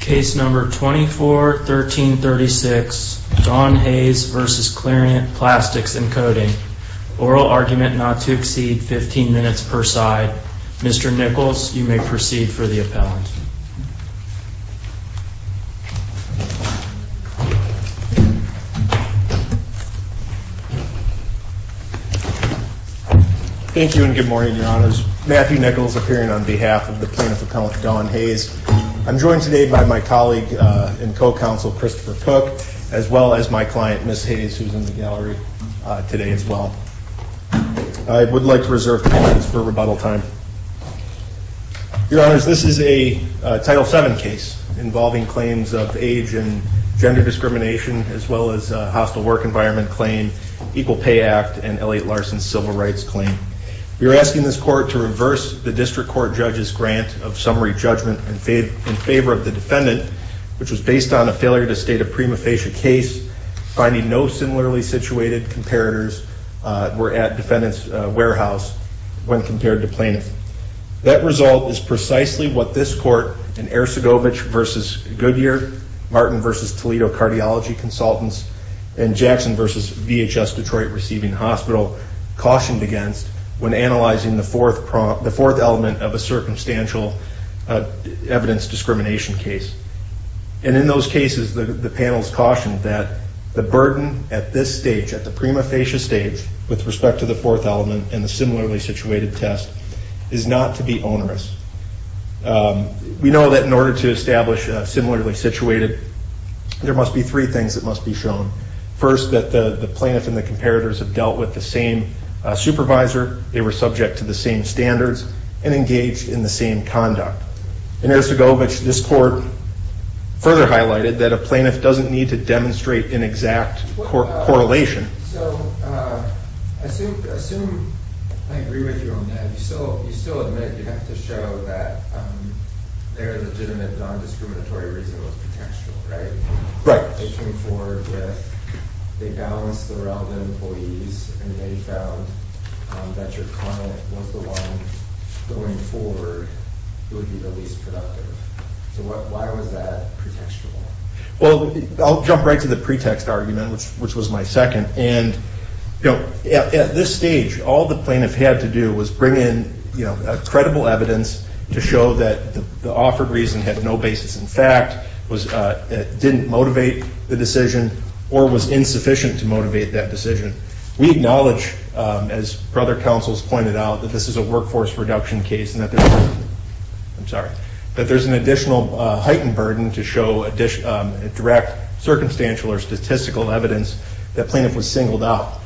Case number 241336, Don Hayes v. Clariant Plastics and Coating. Oral argument not to exceed 15 minutes per side. Mr. Nichols, you may proceed for the appellant. Thank you and good morning, Your Honors. Matthew Nichols appearing on behalf of the plaintiff appellant, Don Hayes. I'm joined today by my colleague and co-counsel, Christopher Cook, as well as my client, Ms. Hayes, who's in the gallery today as well. I would like to reserve the audience for rebuttal time. Your Honors, this is a Title VII case involving claims of age and gender discrimination, as well as a hostile work environment claim, Equal Pay Act, and Elliott Larson's civil rights claim. We are asking this court to reverse the district court judge's grant of summary judgment in favor of the defendant, which was based on a failure to state a prima facie case, finding no similarly situated comparators were at defendant's warehouse when compared to plaintiff. That result is precisely what this court in Ercegovich v. Goodyear, Martin v. Toledo Cardiology Consultants, and Jackson v. VHS Detroit Receiving Hospital cautioned against when analyzing the fourth element of a circumstantial evidence discrimination case. And in those cases, the panels cautioned that the burden at this stage, at the prima facie stage, with respect to the fourth element and the similarly situated test, is not to be onerous. We know that in order to establish a similarly situated, there must be three things that must be shown. First, that the plaintiff and the comparators have dealt with the same supervisor. They were subject to the same standards, and engaged in the same conduct. In Ercegovich, this court further highlighted that a plaintiff doesn't need to demonstrate an exact correlation. So I assume, I agree with you on that. You still admit you have to show that there are legitimate non-discriminatory reasons of potential, right? Right. They came forward with, they balanced the relevant employees, and they found that your client was the one going forward, who would be the least productive. So why was that pretextual? Well, I'll jump right to the pretext argument, which was my second. And at this stage, all the plaintiff had to do was bring in credible evidence to show that the offered reason had no basis in fact, didn't motivate the decision, or was insufficient to motivate that decision. We acknowledge, as brother councils pointed out, that this is a workforce reduction case, and that there's, I'm sorry. That there's an additional heightened burden to show a direct circumstantial or statistical evidence that plaintiff was singled out.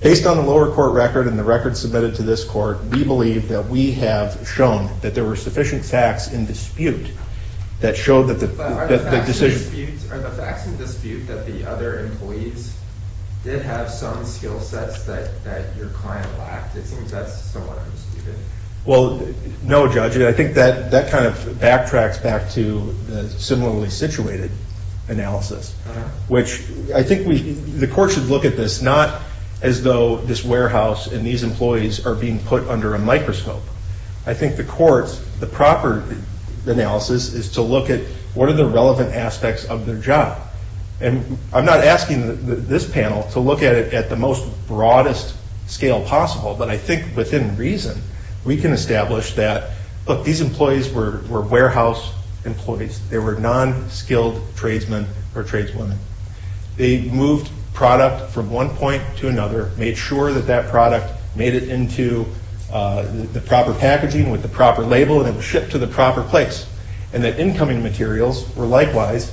Based on the lower court record and the record submitted to this court, we believe that we have shown that there were sufficient facts in dispute that showed that the decision- But are the facts in dispute that the other employees did have some skill sets that your client lacked? It seems that's somewhat understated. Well, no, Judge. I think that kind of backtracks back to the similarly situated analysis. Which I think the court should look at this not as though this warehouse and these employees are being put under a microscope. I think the court's, the proper analysis is to look at, what are the relevant aspects of their job? And I'm not asking this panel to look at it at the most broadest scale possible. But I think within reason, we can establish that, look, these employees were warehouse employees. They were non-skilled tradesmen or tradeswomen. They moved product from one point to another, made sure that that product made it into the proper packaging with the proper label, and it was shipped to the proper place. And the incoming materials were likewise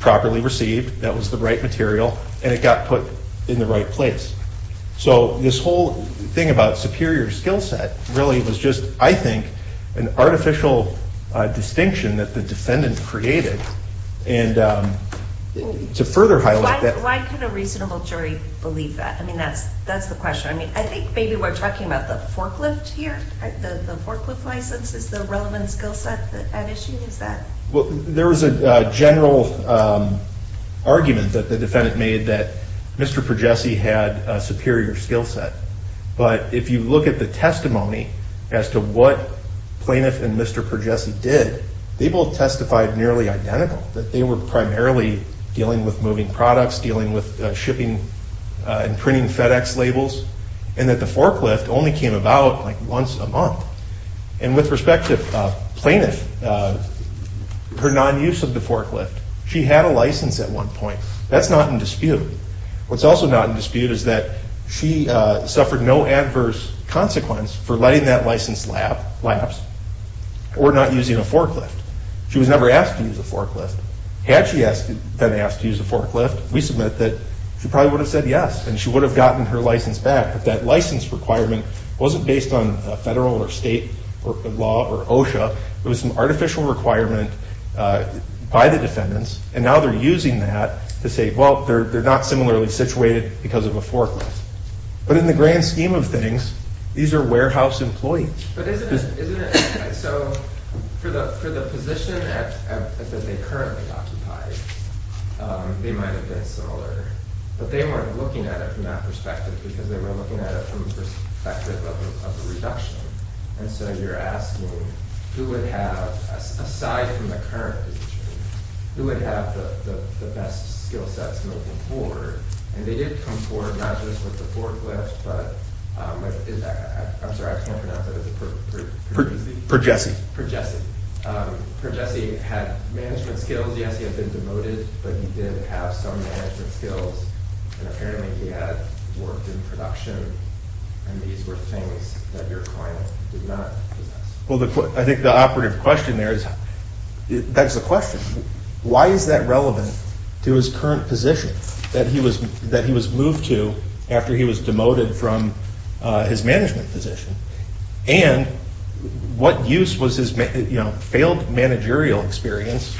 properly received. That was the right material, and it got put in the right place. So this whole thing about superior skill set really was just, I think, an artificial distinction that the defendant created. And to further highlight that- Why can a reasonable jury believe that? I mean, that's the question. I mean, I think maybe we're talking about the forklift here, right? The forklift license is the relevant skill set at issue, is that- Well, there was a general argument that the defendant made that Mr. Pergesi had a superior skill set. But if you look at the testimony as to what Plaintiff and Mr. Pergesi did, they both testified nearly identical. That they were primarily dealing with moving products, dealing with shipping and printing FedEx labels. And that the forklift only came about like once a month. And with respect to Plaintiff, her non-use of the forklift, she had a license at one point. That's not in dispute. What's also not in dispute is that she suffered no adverse consequence for letting that license lapse or not using a forklift. She was never asked to use a forklift. Had she been asked to use a forklift, we submit that she probably would have said yes, and she would have gotten her license back. But that license requirement wasn't based on federal or state law or OSHA. It was an artificial requirement by the defendants. And now they're using that to say, well, they're not similarly situated because of a forklift. But in the grand scheme of things, these are warehouse employees. But isn't it, so for the position that they currently occupy, they might have been similar. But they weren't looking at it from that perspective because they were looking at it from the perspective of the reduction. And so you're asking, who would have, aside from the current position, who would have the best skill sets moving forward? And they did come forward, not just with the forklift, but, I'm sorry, I can't pronounce that as a perjessi. Perjessi had management skills. Yes, he had been demoted, but he did have some management skills. And apparently, he had worked in production. And these were things that your client did not possess. Well, I think the operative question there is, that's the question. Why is that relevant to his current position, that he was moved to after he was demoted from his management position? And what use was his failed managerial experience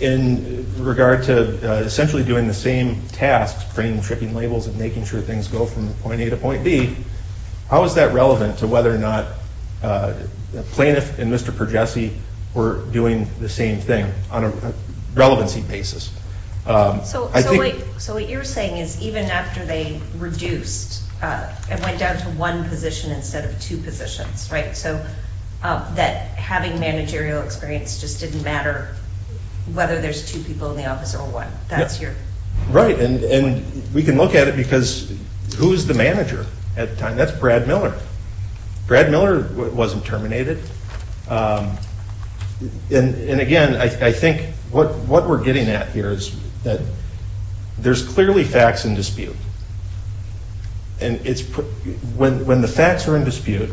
in regard to essentially doing the same tasks, printing and shipping labels and making sure things go from point A to point B? How is that relevant to whether or not the plaintiff and Mr. Perjessi were doing the same thing on a relevancy basis? So what you're saying is, even after they reduced and went down to one position instead of two positions, right? So that having managerial experience just didn't matter whether there's two people in the office or one, that's your- Right, and we can look at it because who's the manager at the time? That's Brad Miller. Brad Miller wasn't terminated. And again, I think what we're getting at here is that there's clearly facts in dispute, and when the facts are in dispute,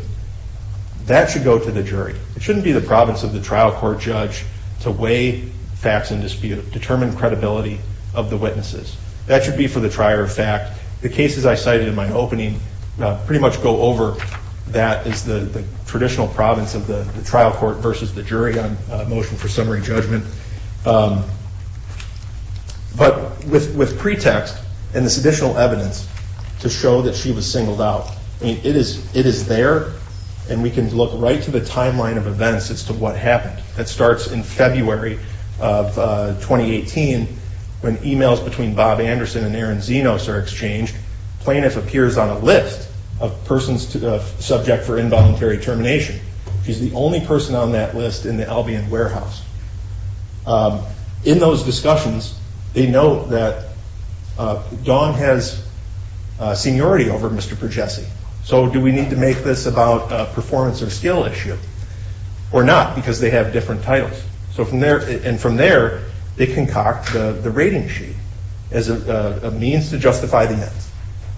that should go to the jury. It shouldn't be the province of the trial court judge to weigh facts in dispute, determine credibility of the witnesses. That should be for the trier of fact. The cases I cited in my opening pretty much go over, that is the traditional province of the trial court versus the jury on motion for summary judgment. But with pretext and this additional evidence to show that she was singled out. It is there, and we can look right to the timeline of events as to what happened. That starts in February of 2018 when emails between Bob Anderson and Aaron Zenos are exchanged. Plaintiff appears on a list of persons subject for involuntary termination. She's the only person on that list in the Albion Warehouse. In those discussions, they note that Dawn has seniority over Mr. Pergesi. So do we need to make this about performance or skill issue? Or not, because they have different titles. So from there, and from there, they concoct the rating sheet as a means to justify the events.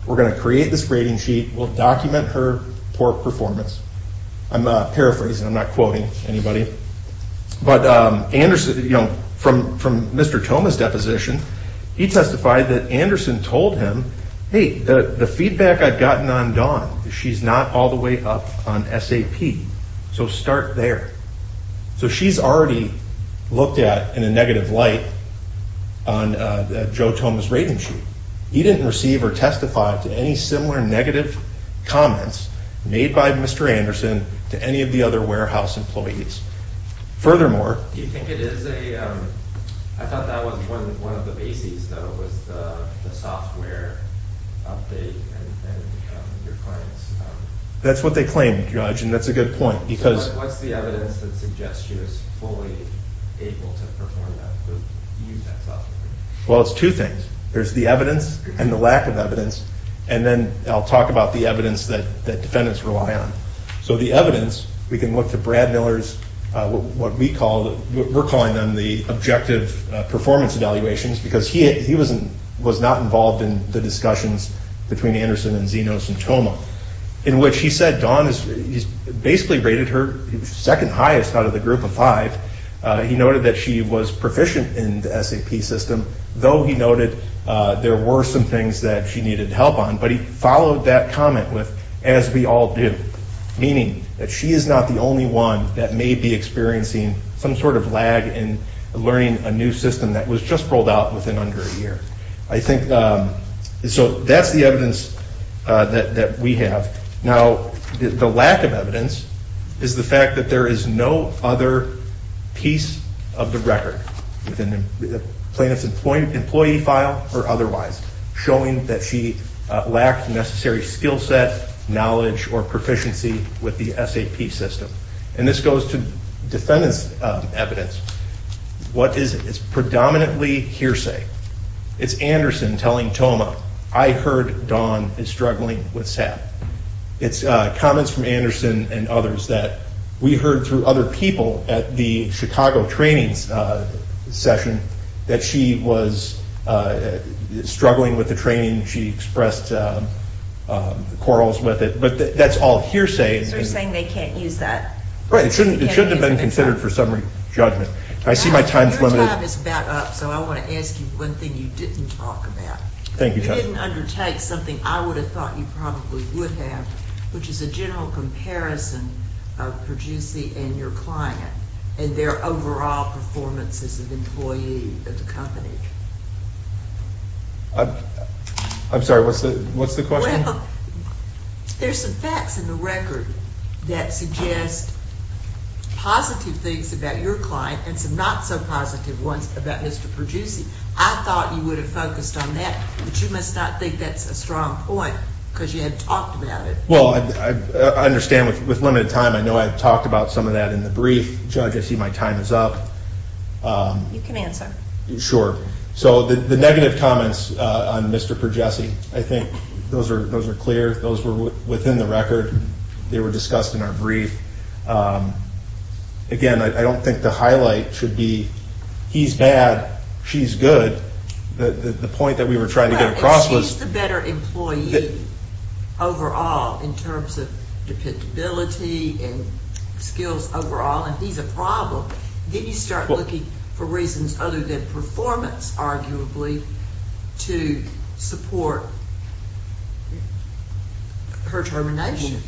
We're gonna create this rating sheet, we'll document her poor performance. I'm paraphrasing, I'm not quoting anybody. But Anderson, from Mr. Thomas' deposition, he testified that Anderson told him, hey, the feedback I've gotten on Dawn, she's not all the way up on SAP, so start there. So she's already looked at in a negative light on Joe Thomas' rating sheet. He didn't receive or testify to any similar negative comments made by Mr. Anderson to any of the other warehouse employees. Furthermore- Do you think it is a, I thought that was one of the bases, though, was the software update and your clients- That's what they claim, Judge, and that's a good point, because- What's the evidence that suggests she was fully able to perform that, to use that software? Well, it's two things. There's the evidence and the lack of evidence. And then I'll talk about the evidence that defendants rely on. So the evidence, we can look to Brad Miller's, what we call, we're calling them the objective performance evaluations, because he was not involved in the discussions between Anderson and Zenos and Toma. In which he said Dawn, he basically rated her second highest out of the group of five. He noted that she was proficient in the SAP system, though he noted there were some things that she needed help on, but he followed that comment with, as we all do. Meaning that she is not the only one that may be experiencing some sort of lag in learning a new system that was just rolled out within under a year. I think, so that's the evidence that we have. Now, the lack of evidence is the fact that there is no other piece of the record within the plaintiff's employee file or otherwise, showing that she lacked the necessary skill set, knowledge, or proficiency with the SAP system. And this goes to defendant's evidence. What is it? It's predominantly hearsay. It's Anderson telling Toma, I heard Dawn is struggling with SAP. It's comments from Anderson and others that we heard through other people at the Chicago trainings session that she was struggling with the training. She expressed quarrels with it, but that's all hearsay. So you're saying they can't use that? Right, it shouldn't have been considered for summary judgment. I see my time's limited. Your time is about up, so I want to ask you one thing you didn't talk about. Thank you, Judge. You didn't undertake something I would have thought you probably would have, which is a general comparison of Perducey and your client and their overall performance as an employee of the company. I'm sorry, what's the question? Well, there's some facts in the record that suggest positive things about your client and some not so positive ones about Mr. Perducey. I thought you would have focused on that, but you must not think that's a strong point because you had talked about it. Well, I understand with limited time, I know I've talked about some of that in the brief. Judge, I see my time is up. You can answer. Sure. So the negative comments on Mr. Perducey, I think those are clear. Those were within the record. They were discussed in our brief. Again, I don't think the highlight should be he's bad, she's good. The point that we were trying to get across was... If she's the better employee overall in terms of dependability and skills overall and he's a problem, then you start looking for reasons other than performance, arguably, to support her termination.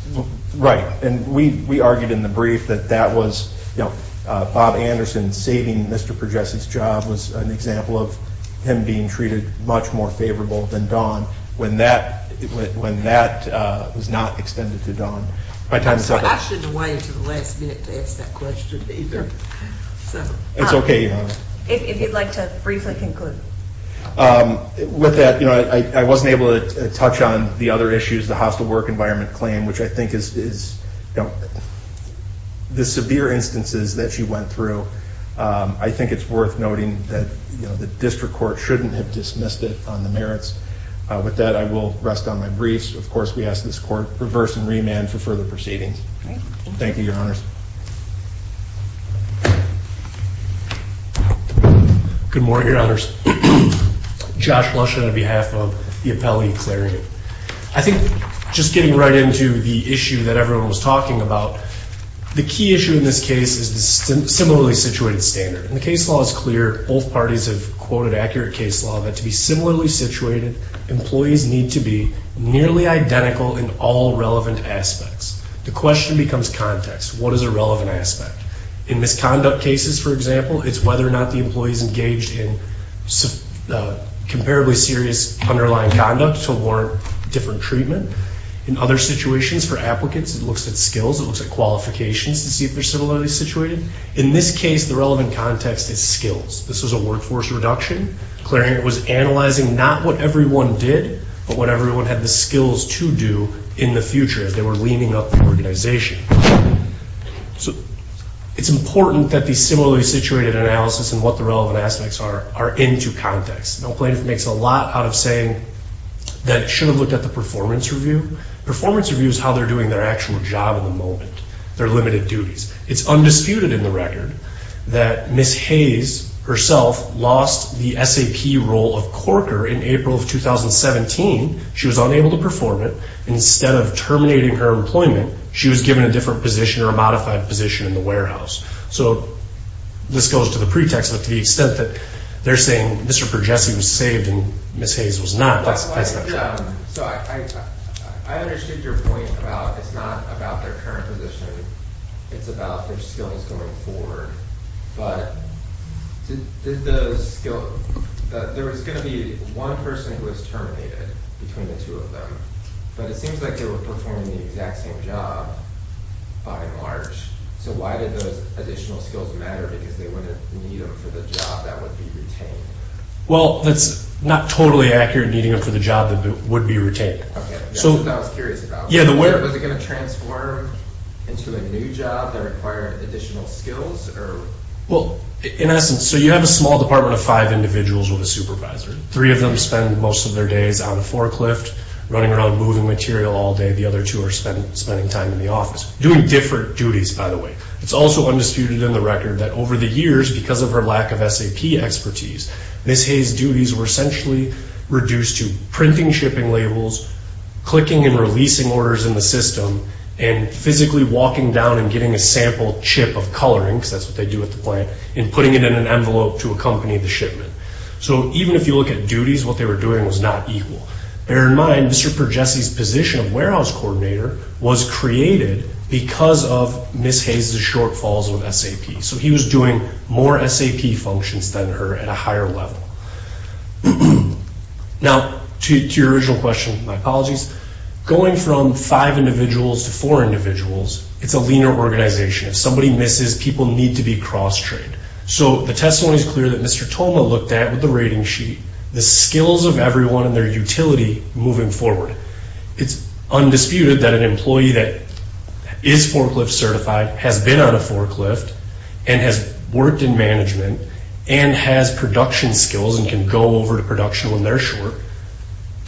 Right, and we argued in the brief that that was Bob Anderson saving Mr. Perducey's job and Bob was an example of him being treated much more favorable than Don when that was not extended to Don. My time is up. I shouldn't have waited until the last minute to ask that question either. It's okay, Your Honor. If you'd like to briefly conclude. With that, I wasn't able to touch on the other issues, the hostile work environment claim, which I think is the severe instances that she went through. I think it's worth noting that the district court shouldn't have dismissed it on the merits. With that, I will rest on my briefs. Of course, we ask this court reverse and remand for further proceedings. Thank you, Your Honors. Good morning, Your Honors. Josh Lush on behalf of the Appellate Executive. I think just getting right into the issue that everyone was talking about, the key issue in this case is the similarly situated standard. And the case law is clear. Both parties have quoted accurate case law that to be similarly situated, employees need to be nearly identical in all relevant aspects. The question becomes context. What is a relevant aspect? In misconduct cases, for example, it's whether or not the employee is engaged in comparably serious underlying conduct to warrant different treatment. In other situations, for applicants, it looks at skills. It looks at qualifications to see if they're similarly situated. In this case, the relevant context is skills. This was a workforce reduction. Clare Hanger was analyzing not what everyone did, but what everyone had the skills to do in the future as they were leaning up the organization. So it's important that the similarly situated analysis and what the relevant aspects are are into context. Now plaintiff makes a lot out of saying that it should have looked at the performance review. Performance review is how they're doing their actual job at the moment, their limited duties. It's undisputed in the record that Ms. Hayes herself lost the SAP role of corker in April of 2017. She was unable to perform it. Instead of terminating her employment, she was given a different position or a modified position in the warehouse. So this goes to the pretext that to the extent that they're saying Mr. Pergesi was saved and Ms. Hayes was not, that's not true. So I understood your point about it's not about their current position. It's about their skills going forward. But there was going to be one person who was terminated between the two of them. But it seems like they were performing the exact same job by March. So why did those additional skills matter? Because they wouldn't need them for the job that would be retained. Well, that's not totally accurate, needing them for the job that would be retained. Okay, that's what I was curious about. Yeah, the where. Was it going to transform into a new job that required additional skills or? Well, in essence, so you have a small department of five individuals with a supervisor. Three of them spend most of their days on a forklift running around moving material all day. The other two are spending time in the office doing different duties, by the way. It's also undisputed in the record that over the years, because of her lack of SAP expertise, Ms. Hayes' duties were essentially reduced to printing shipping labels, clicking and releasing orders in the system, and physically walking down and getting a sample chip of coloring, because that's what they do at the plant, and putting it in an envelope to accompany the shipment. So even if you look at duties, what they were doing was not equal. Bear in mind, Mr. Pergesi's position of warehouse coordinator was created because of Ms. Hayes' shortfalls with SAP. So he was doing more SAP functions than her at a higher level. Now, to your original question, my apologies. Going from five individuals to four individuals, it's a leaner organization. If somebody misses, people need to be cross-trained. So the testimony is clear that Mr. Thoma looked at, with the rating sheet, the skills of everyone and their utility moving forward. It's undisputed that an employee that is forklift certified, has been on a forklift, and has worked in management, and has production skills and can go over to production when they're short,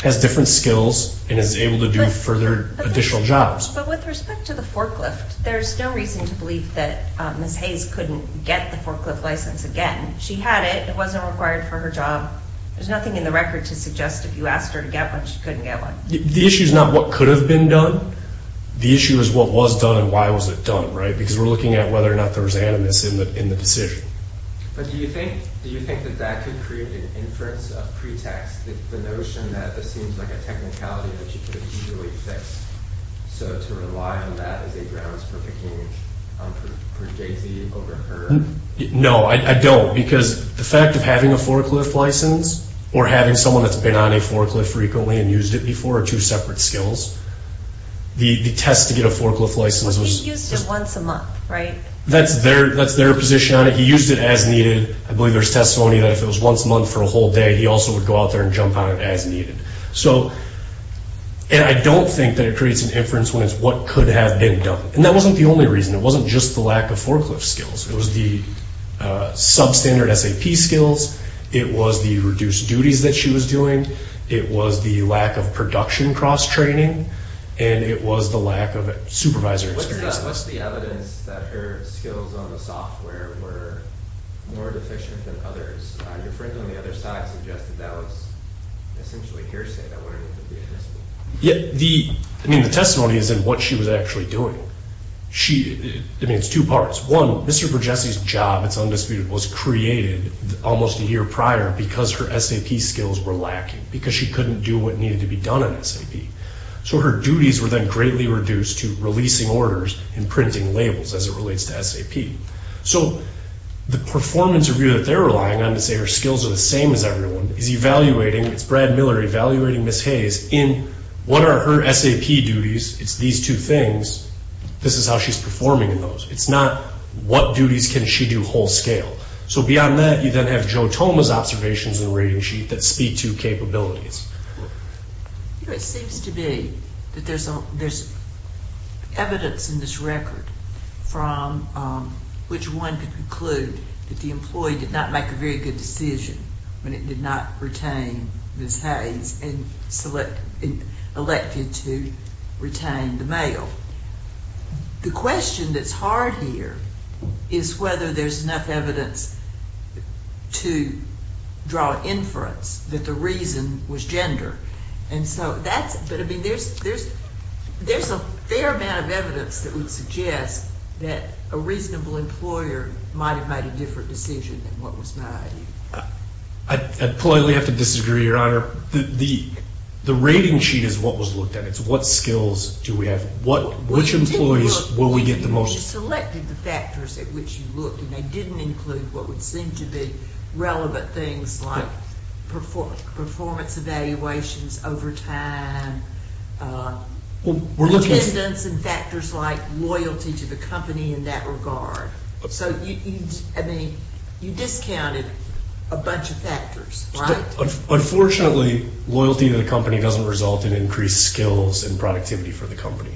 has different skills, and is able to do further additional jobs. But with respect to the forklift, there's no reason to believe that Ms. Hayes couldn't get the forklift license again. She had it. It wasn't required for her job. There's nothing in the record to suggest if you asked her to get one, she couldn't get one. The issue is not what could have been done. The issue is what was done and why was it done, right? Because we're looking at whether or not there was animus in the decision. But do you think that that could create an inference of pretext, the notion that this seems like a technicality that you could easily fix? So to rely on that as a grounds for picking on, for Jay Z over her? No, I don't. Because the fact of having a forklift license, or having someone that's been on a forklift frequently and used it before, are two separate skills. The test to get a forklift license was- But he used it once a month, right? That's their position on it. He used it as needed. I believe there's testimony that if it was once a month for a whole day, he also would go out there and jump on it as needed. So, and I don't think that it creates an inference when it's what could have been done. And that wasn't the only reason. It wasn't just the lack of forklift skills. It was the substandard SAP skills. It was the reduced duties that she was doing. It was the lack of production cross-training. And it was the lack of supervisor experience. What's the evidence that her skills on the software were more deficient than others? Your friend on the other side suggested that was essentially hearsay. That wouldn't have been the evidence. Yeah. The, I mean, the testimony is in what she was actually doing. She, I mean, it's two parts. One, Mr. Vergesi's job, it's undisputed, was created almost a year prior because her SAP skills were lacking. Because she couldn't do what needed to be done in SAP. So, her duties were then greatly reduced to releasing orders and printing labels as it relates to SAP. So, the performance review that they're relying on to say her skills are the same as everyone is evaluating, it's Brad Miller evaluating Ms. Hayes in what are her SAP duties, it's these two things. This is how she's performing in those. It's not what duties can she do whole scale. So, beyond that, you then have Joe Toma's observations in the rating sheet that speak to capabilities. You know, it seems to be that there's evidence in this record from which one could conclude that the employee did not make a very good decision when it did not retain Ms. Hayes and selected, elected to retain the male. The question that's hard here is whether there's enough evidence to draw inference that the reason was gender. And so, that's, but I mean, there's a fair amount of evidence that would suggest that a reasonable employer might have made a different decision than what was made. I'd politely have to disagree, Your Honor. The rating sheet is what was looked at. It's what skills do we have. What, which employees will we get the most. Selected the factors at which you looked and they didn't include what would seem to be relevant things like performance evaluations over time, attendance and factors like loyalty to the company in that regard. So, you, I mean, you discounted a bunch of factors, right? Unfortunately, loyalty to the company doesn't result in increased skills and productivity for the company.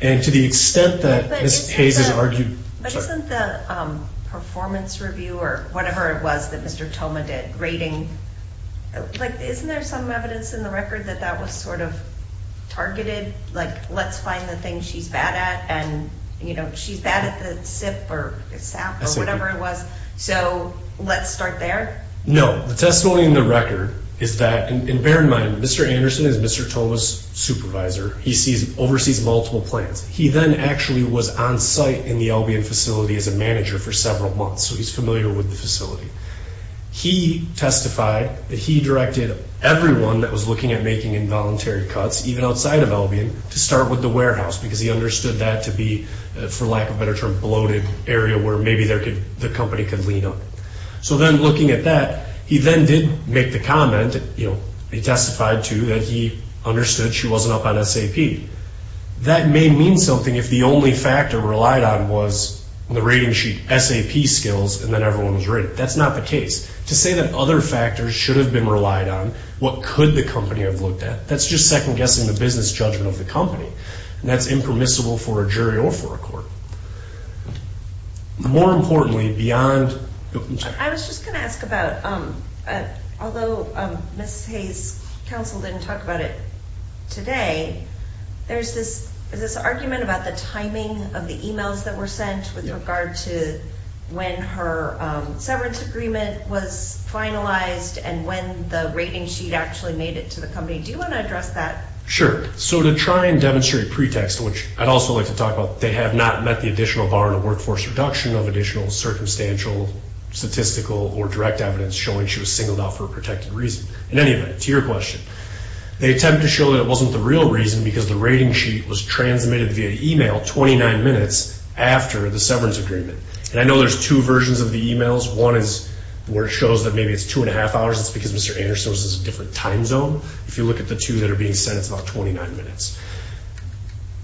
And to the extent that Ms. Hayes has argued. But isn't the performance review or whatever it was that Mr. Thoma did, rating, like isn't there some evidence in the record that that was sort of targeted? Like let's find the thing she's bad at and, you know, she's bad at the SIP or SAP or whatever it was, so let's start there? No. The testimony in the record is that, and bear in mind, Mr. Anderson is Mr. Thoma's supervisor. He sees, oversees multiple plans. He then actually was on site in the Albion facility as a manager for several months, so he's familiar with the facility. He testified that he directed everyone that was looking at making involuntary cuts, even outside of Albion, to start with the warehouse because he understood that to be, for lack of a better term, bloated area where maybe the company could lean on. So then looking at that, he then did make the comment, you know, he testified to that he understood she wasn't up on SAP. That may mean something if the only factor relied on was the rating sheet SAP skills and then everyone was ready. That's not the case. To say that other factors should have been relied on, what could the company have looked at, that's just second guessing the business judgment of the company, and that's impermissible for a jury or for a court. More importantly, beyond. I was just going to ask about, although Ms. Hayes' counsel didn't talk about it today, there's this argument about the timing of the emails that were sent with regard to when her severance agreement was finalized and when the rating sheet actually made it to the company. Do you want to address that? Sure. So to try and demonstrate pretext, which I'd also like to talk about, they have not met the additional bar in the workforce reduction of additional circumstantial, statistical, or direct evidence showing she was singled out for a protected reason. In any event, to your question, they attempted to show that it wasn't the real reason because the rating sheet was transmitted via email 29 minutes after the severance agreement. And I know there's two versions of the emails. One is where it shows that maybe it's two and a half hours. It's because Mr. Anderson was in a different time zone. If you look at the two that are being sent, it's about 29 minutes.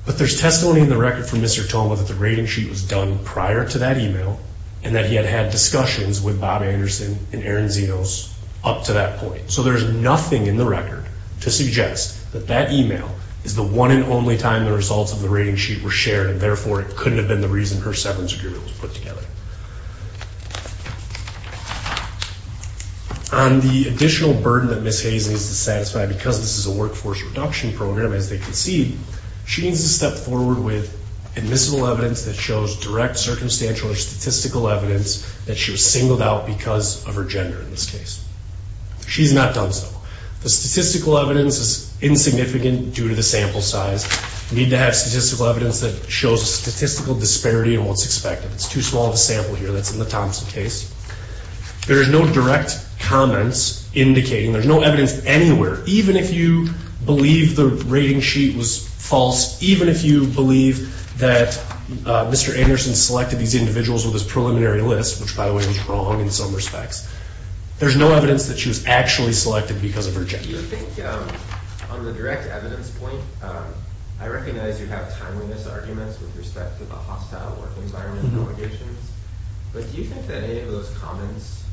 But there's testimony in the record from Mr. Toma that the rating sheet was done prior to that email and that he had had discussions with Bob Anderson and Aaron Zenos up to that point. So there's nothing in the record to suggest that that email is the one and only time the results of the rating sheet were shared and therefore it couldn't have been the reason her severance agreement was put together. On the additional burden that Ms. Hayes needs to satisfy because this is a workforce reduction program, as they concede, she needs to step forward with admissible evidence that shows direct circumstantial or statistical evidence that she was singled out because of her gender in this case. She's not done so. The statistical evidence is insignificant due to the sample size. You need to have statistical evidence that shows a statistical disparity in what's expected. It's too small of a sample here. That's in the Thompson case. There is no direct comments indicating, there's no evidence anywhere, even if you believe the rating sheet was false, even if you believe that Mr. Anderson selected these individuals with his preliminary list, which by the way was wrong in some respects, there's no evidence that she was actually selected because of her gender. Do you think, on the direct evidence point, I recognize you have timeliness arguments with respect to the hostile work environment allegations, but do you think that any of those comments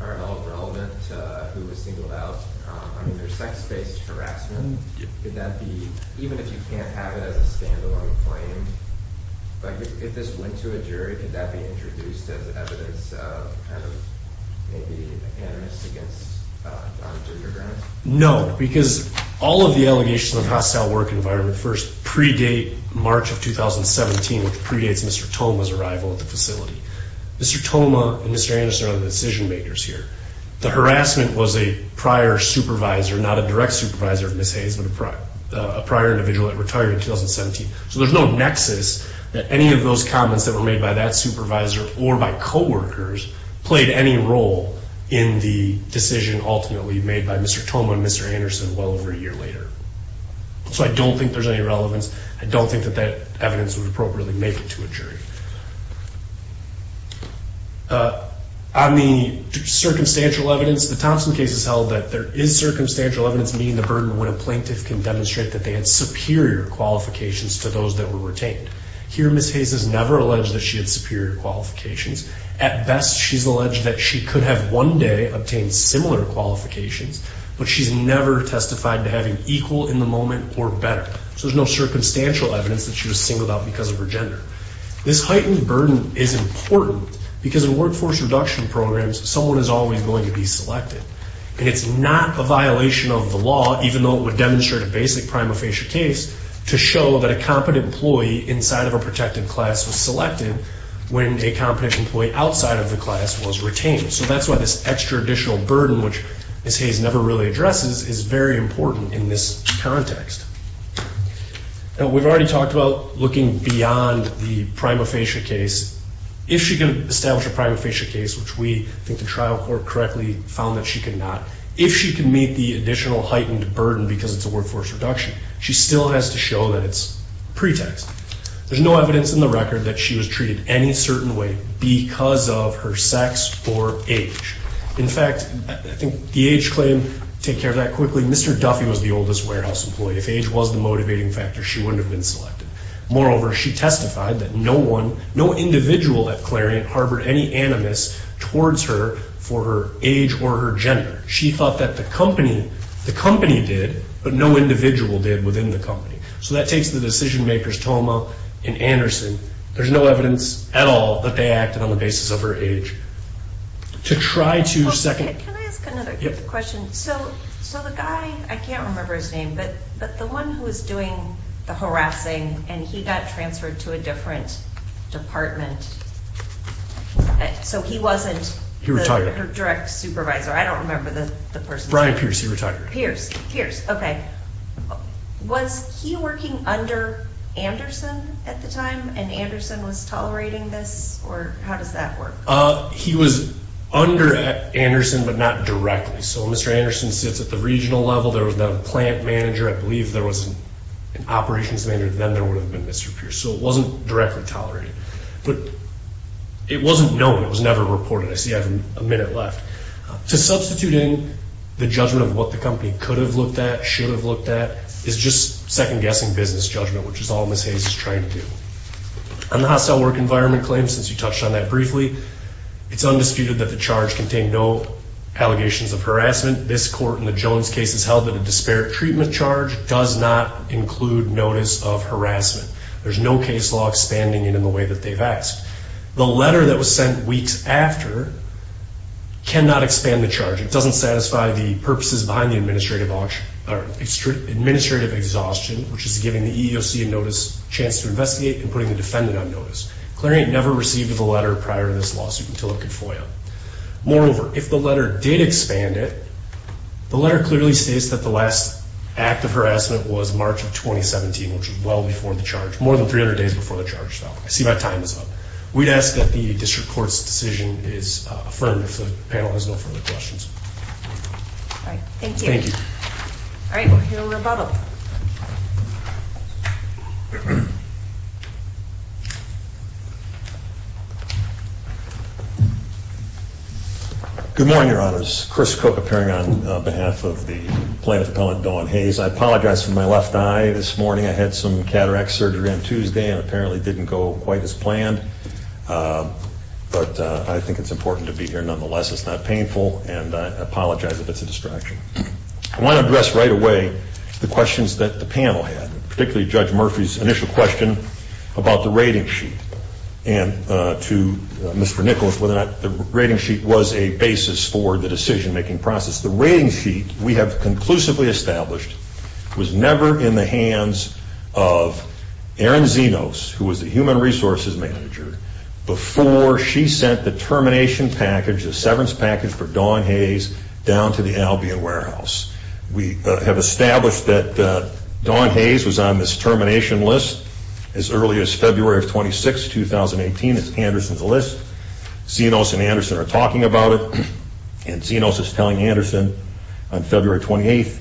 are at all relevant to who was singled out? I mean, there's sex-based harassment. Could that be, even if you can't have it as a stand-alone claim, like if this went to a jury, could that be introduced as evidence of kind of maybe animus against Donna Gingerbrenner? No, because all of the allegations of hostile work environment first predate March of 2017, which predates Mr. Thoma's arrival at the facility. Mr. Thoma and Mr. Anderson are the decision-makers here. The harassment was a prior supervisor, not a direct supervisor of Ms. Hayes, but a prior individual that retired in 2017, so there's no nexus that any of those comments that were made by that supervisor or by coworkers played any role in the decision ultimately made by Mr. Thoma and Mr. Anderson well over a year later. So I don't think there's any relevance. I don't think that that evidence would appropriately make it to a jury. On the circumstantial evidence, the Thompson case has held that there is circumstantial evidence meeting the burden when a plaintiff can demonstrate that they had superior qualifications to those that were retained. Here, Ms. Hayes has never alleged that she had superior qualifications. At best, she's alleged that she could have one day obtained similar qualifications, but she's never testified to having equal in the moment or better. So there's no circumstantial evidence that she was singled out because of her gender. This heightened burden is important because in workforce reduction programs, someone is always going to be selected, and it's not a violation of the law, even though it would demonstrate a basic prima facie case, to show that a competent employee inside of a protected class was selected when a competent employee outside of the class was retained. So that's why this extra additional burden, which Ms. Hayes never really addresses, is very important in this context. Now, we've already talked about looking beyond the prima facie case. If she can establish a prima facie case, which we think the trial court correctly found that she could not, if she can meet the additional heightened burden because it's a workforce reduction, she still has to show that it's pretext. There's no evidence in the record that she was treated any certain way because of her sex or age. In fact, I think the age claim, take care of that quickly, Mr. Duffy was the oldest warehouse employee. If age was the motivating factor, she wouldn't have been selected. Moreover, she testified that no one, no individual at Clarion harbored any animus towards her for her age or her gender. She thought that the company, the company did, but no individual did within the company. So that takes the decision makers, Toma and Anderson. There's no evidence at all that they acted on the basis of her age. To try to second- Can I ask another question? So the guy, I can't remember his name, but the one who was doing the harassing and he got transferred to a different department, so he wasn't- Her direct supervisor. I don't remember the person. Brian Pierce, he retired. Pierce, Pierce, okay. Was he working under Anderson at the time and Anderson was tolerating this or how does that work? He was under Anderson, but not directly. So Mr. Anderson sits at the regional level. There was no plant manager. I believe there was an operations manager. Then there would have been Mr. Pierce. So it wasn't directly tolerated, but it wasn't known. It was never reported. I see I have a minute left. To substituting the judgment of what the company could have looked at, should have looked at, is just second-guessing business judgment, which is all Ms. Hayes is trying to do. On the hostile work environment claim, since you touched on that briefly, it's undisputed that the charge contained no allegations of harassment. This court in the Jones case has held that a disparate treatment charge does not include notice of harassment. There's no case law expanding it in the way that they've asked. The letter that was sent weeks after cannot expand the charge. It doesn't satisfy the purposes behind the administrative exhaustion, which is giving the EEOC a notice, chance to investigate, and putting the defendant on notice. Clarion never received the letter prior to this lawsuit until it could FOIA. Moreover, if the letter did expand it, the letter clearly states that the last act of harassment was March of 2017, which is well before the charge, more than 300 days before the charge fell. I see my time is up. We'd ask that the district court's decision is affirmed if the panel has no further questions. All right. Thank you. Thank you. All right. We'll hear a rebuttal. Good morning, Your Honors. Chris Cook, appearing on behalf of the plaintiff appellant, Dawn Hayes. I apologize for my left eye. This morning, I had some cataract surgery on Tuesday and apparently didn't go quite as planned. But I think it's important to be here nonetheless. It's not painful. And I apologize if it's a distraction. I want to address right away the questions that the panel had, particularly Judge Murphy's initial question about the rating sheet. And to Mr. Nichols, whether or not the rating sheet was a basis for the decision-making process. The rating sheet we have conclusively established was never in the hands of Erin Zenos, who was the human resources manager, before she sent the termination package, the severance package for Dawn Hayes, down to the Albion Warehouse. We have established that Dawn Hayes was on this termination list as early as February of 26, 2018. It's Anderson's list. Zenos and Anderson are talking about it. And Zenos is telling Anderson on February 28,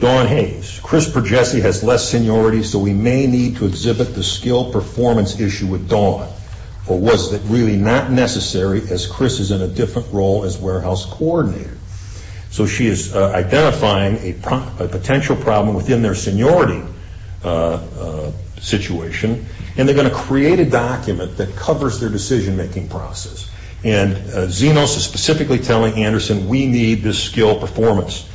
Dawn Hayes, Chris Progessi has less seniority, so we may need to exhibit the skill performance issue with Dawn. Or was it really not necessary as Chris is in a different role as warehouse coordinator? So she is identifying a potential problem within their seniority situation. And they're going to create a document that covers their decision-making process. And Zenos is specifically telling Anderson, we need this skill performance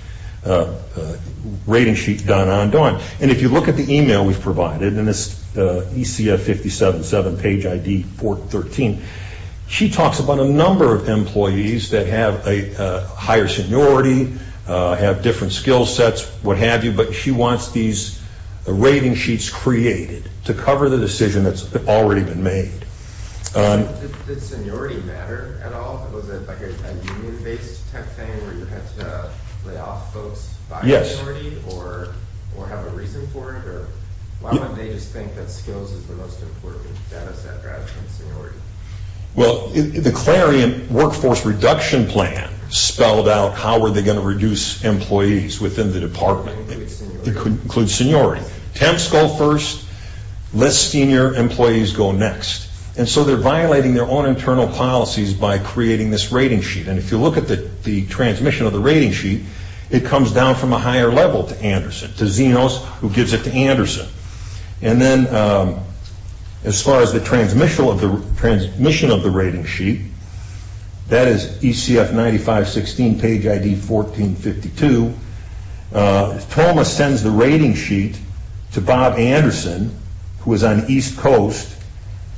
rating sheet done on Dawn. And if you look at the email we've provided, and it's ECF 577 page ID 413, she talks about a number of employees that have a higher seniority, have different skill sets, what have you. But she wants these rating sheets created to cover the decision that's already been made. Did seniority matter at all? Was it like a union-based type thing where you had to lay off folks by seniority? Or have a reason for it? Or why would they just think that skills is the most important data set rather than seniority? Well, the clarion workforce reduction plan spelled out how were they going to reduce employees within the department. It could include seniority. Temps go first, less senior employees go next. And so they're violating their own internal policies by creating this rating sheet. And if you look at the transmission of the rating sheet, it comes down from a higher level to Anderson, to Zenos who gives it to Anderson. And then as far as the transmission of the rating sheet, that is ECF 9516 page ID 1452. Toma sends the rating sheet to Bob Anderson who is on the East Coast.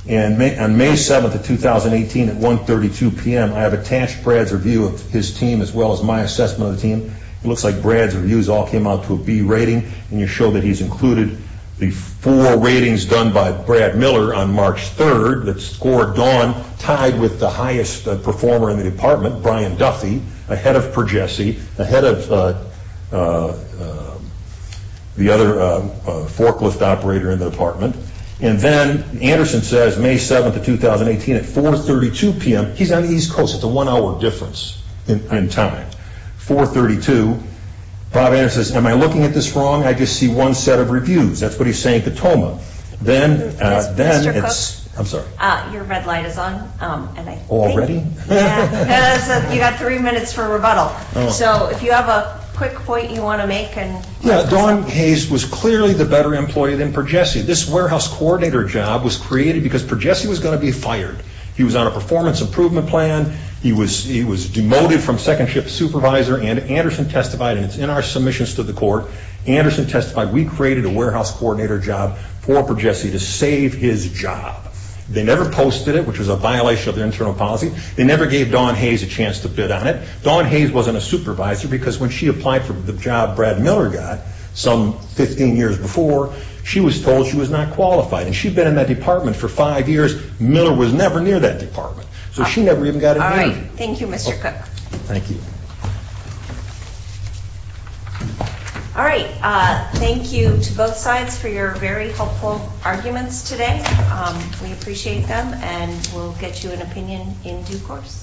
And on May 7th of 2018 at 1.32 p.m., I have attached Brad's review of his team as well as my assessment of the team. It looks like Brad's reviews all came out to a B rating. And you show that he's included the four ratings done by Brad Miller on March 3rd that scored Dawn tied with the highest performer in the department, Brian Duffy, ahead of Pergesi, ahead of the other forklift operator in the department. And then Anderson says May 7th of 2018 at 4.32 p.m., he's on the East Coast, it's a one hour difference in time, 4.32. Bob Anderson says, am I looking at this wrong? I just see one set of reviews. That's what he's saying to Toma. Then it's, I'm sorry. Your red light is on. Yeah, you got three minutes for rebuttal. So if you have a quick point you want to make and. Yeah, Dawn Hayes was clearly the better employee than Pergesi. This warehouse coordinator job was created because Pergesi was going to be fired. He was on a performance improvement plan. He was demoted from second shift supervisor and Anderson testified, and it's in our submissions to the court, Anderson testified, we created a warehouse coordinator job for Pergesi to save his job. They never posted it, which was a violation of their internal policy. They never gave Dawn Hayes a chance to bid on it. Dawn Hayes wasn't a supervisor because when she applied for the job Brad Miller got, some 15 years before, she was told she was not qualified. And she'd been in that department for five years, Miller was never near that department. So she never even got a job. Thank you, Mr. Cook. Thank you. All right, thank you to both sides for your very helpful arguments today. We appreciate them, and we'll get you an opinion in due course.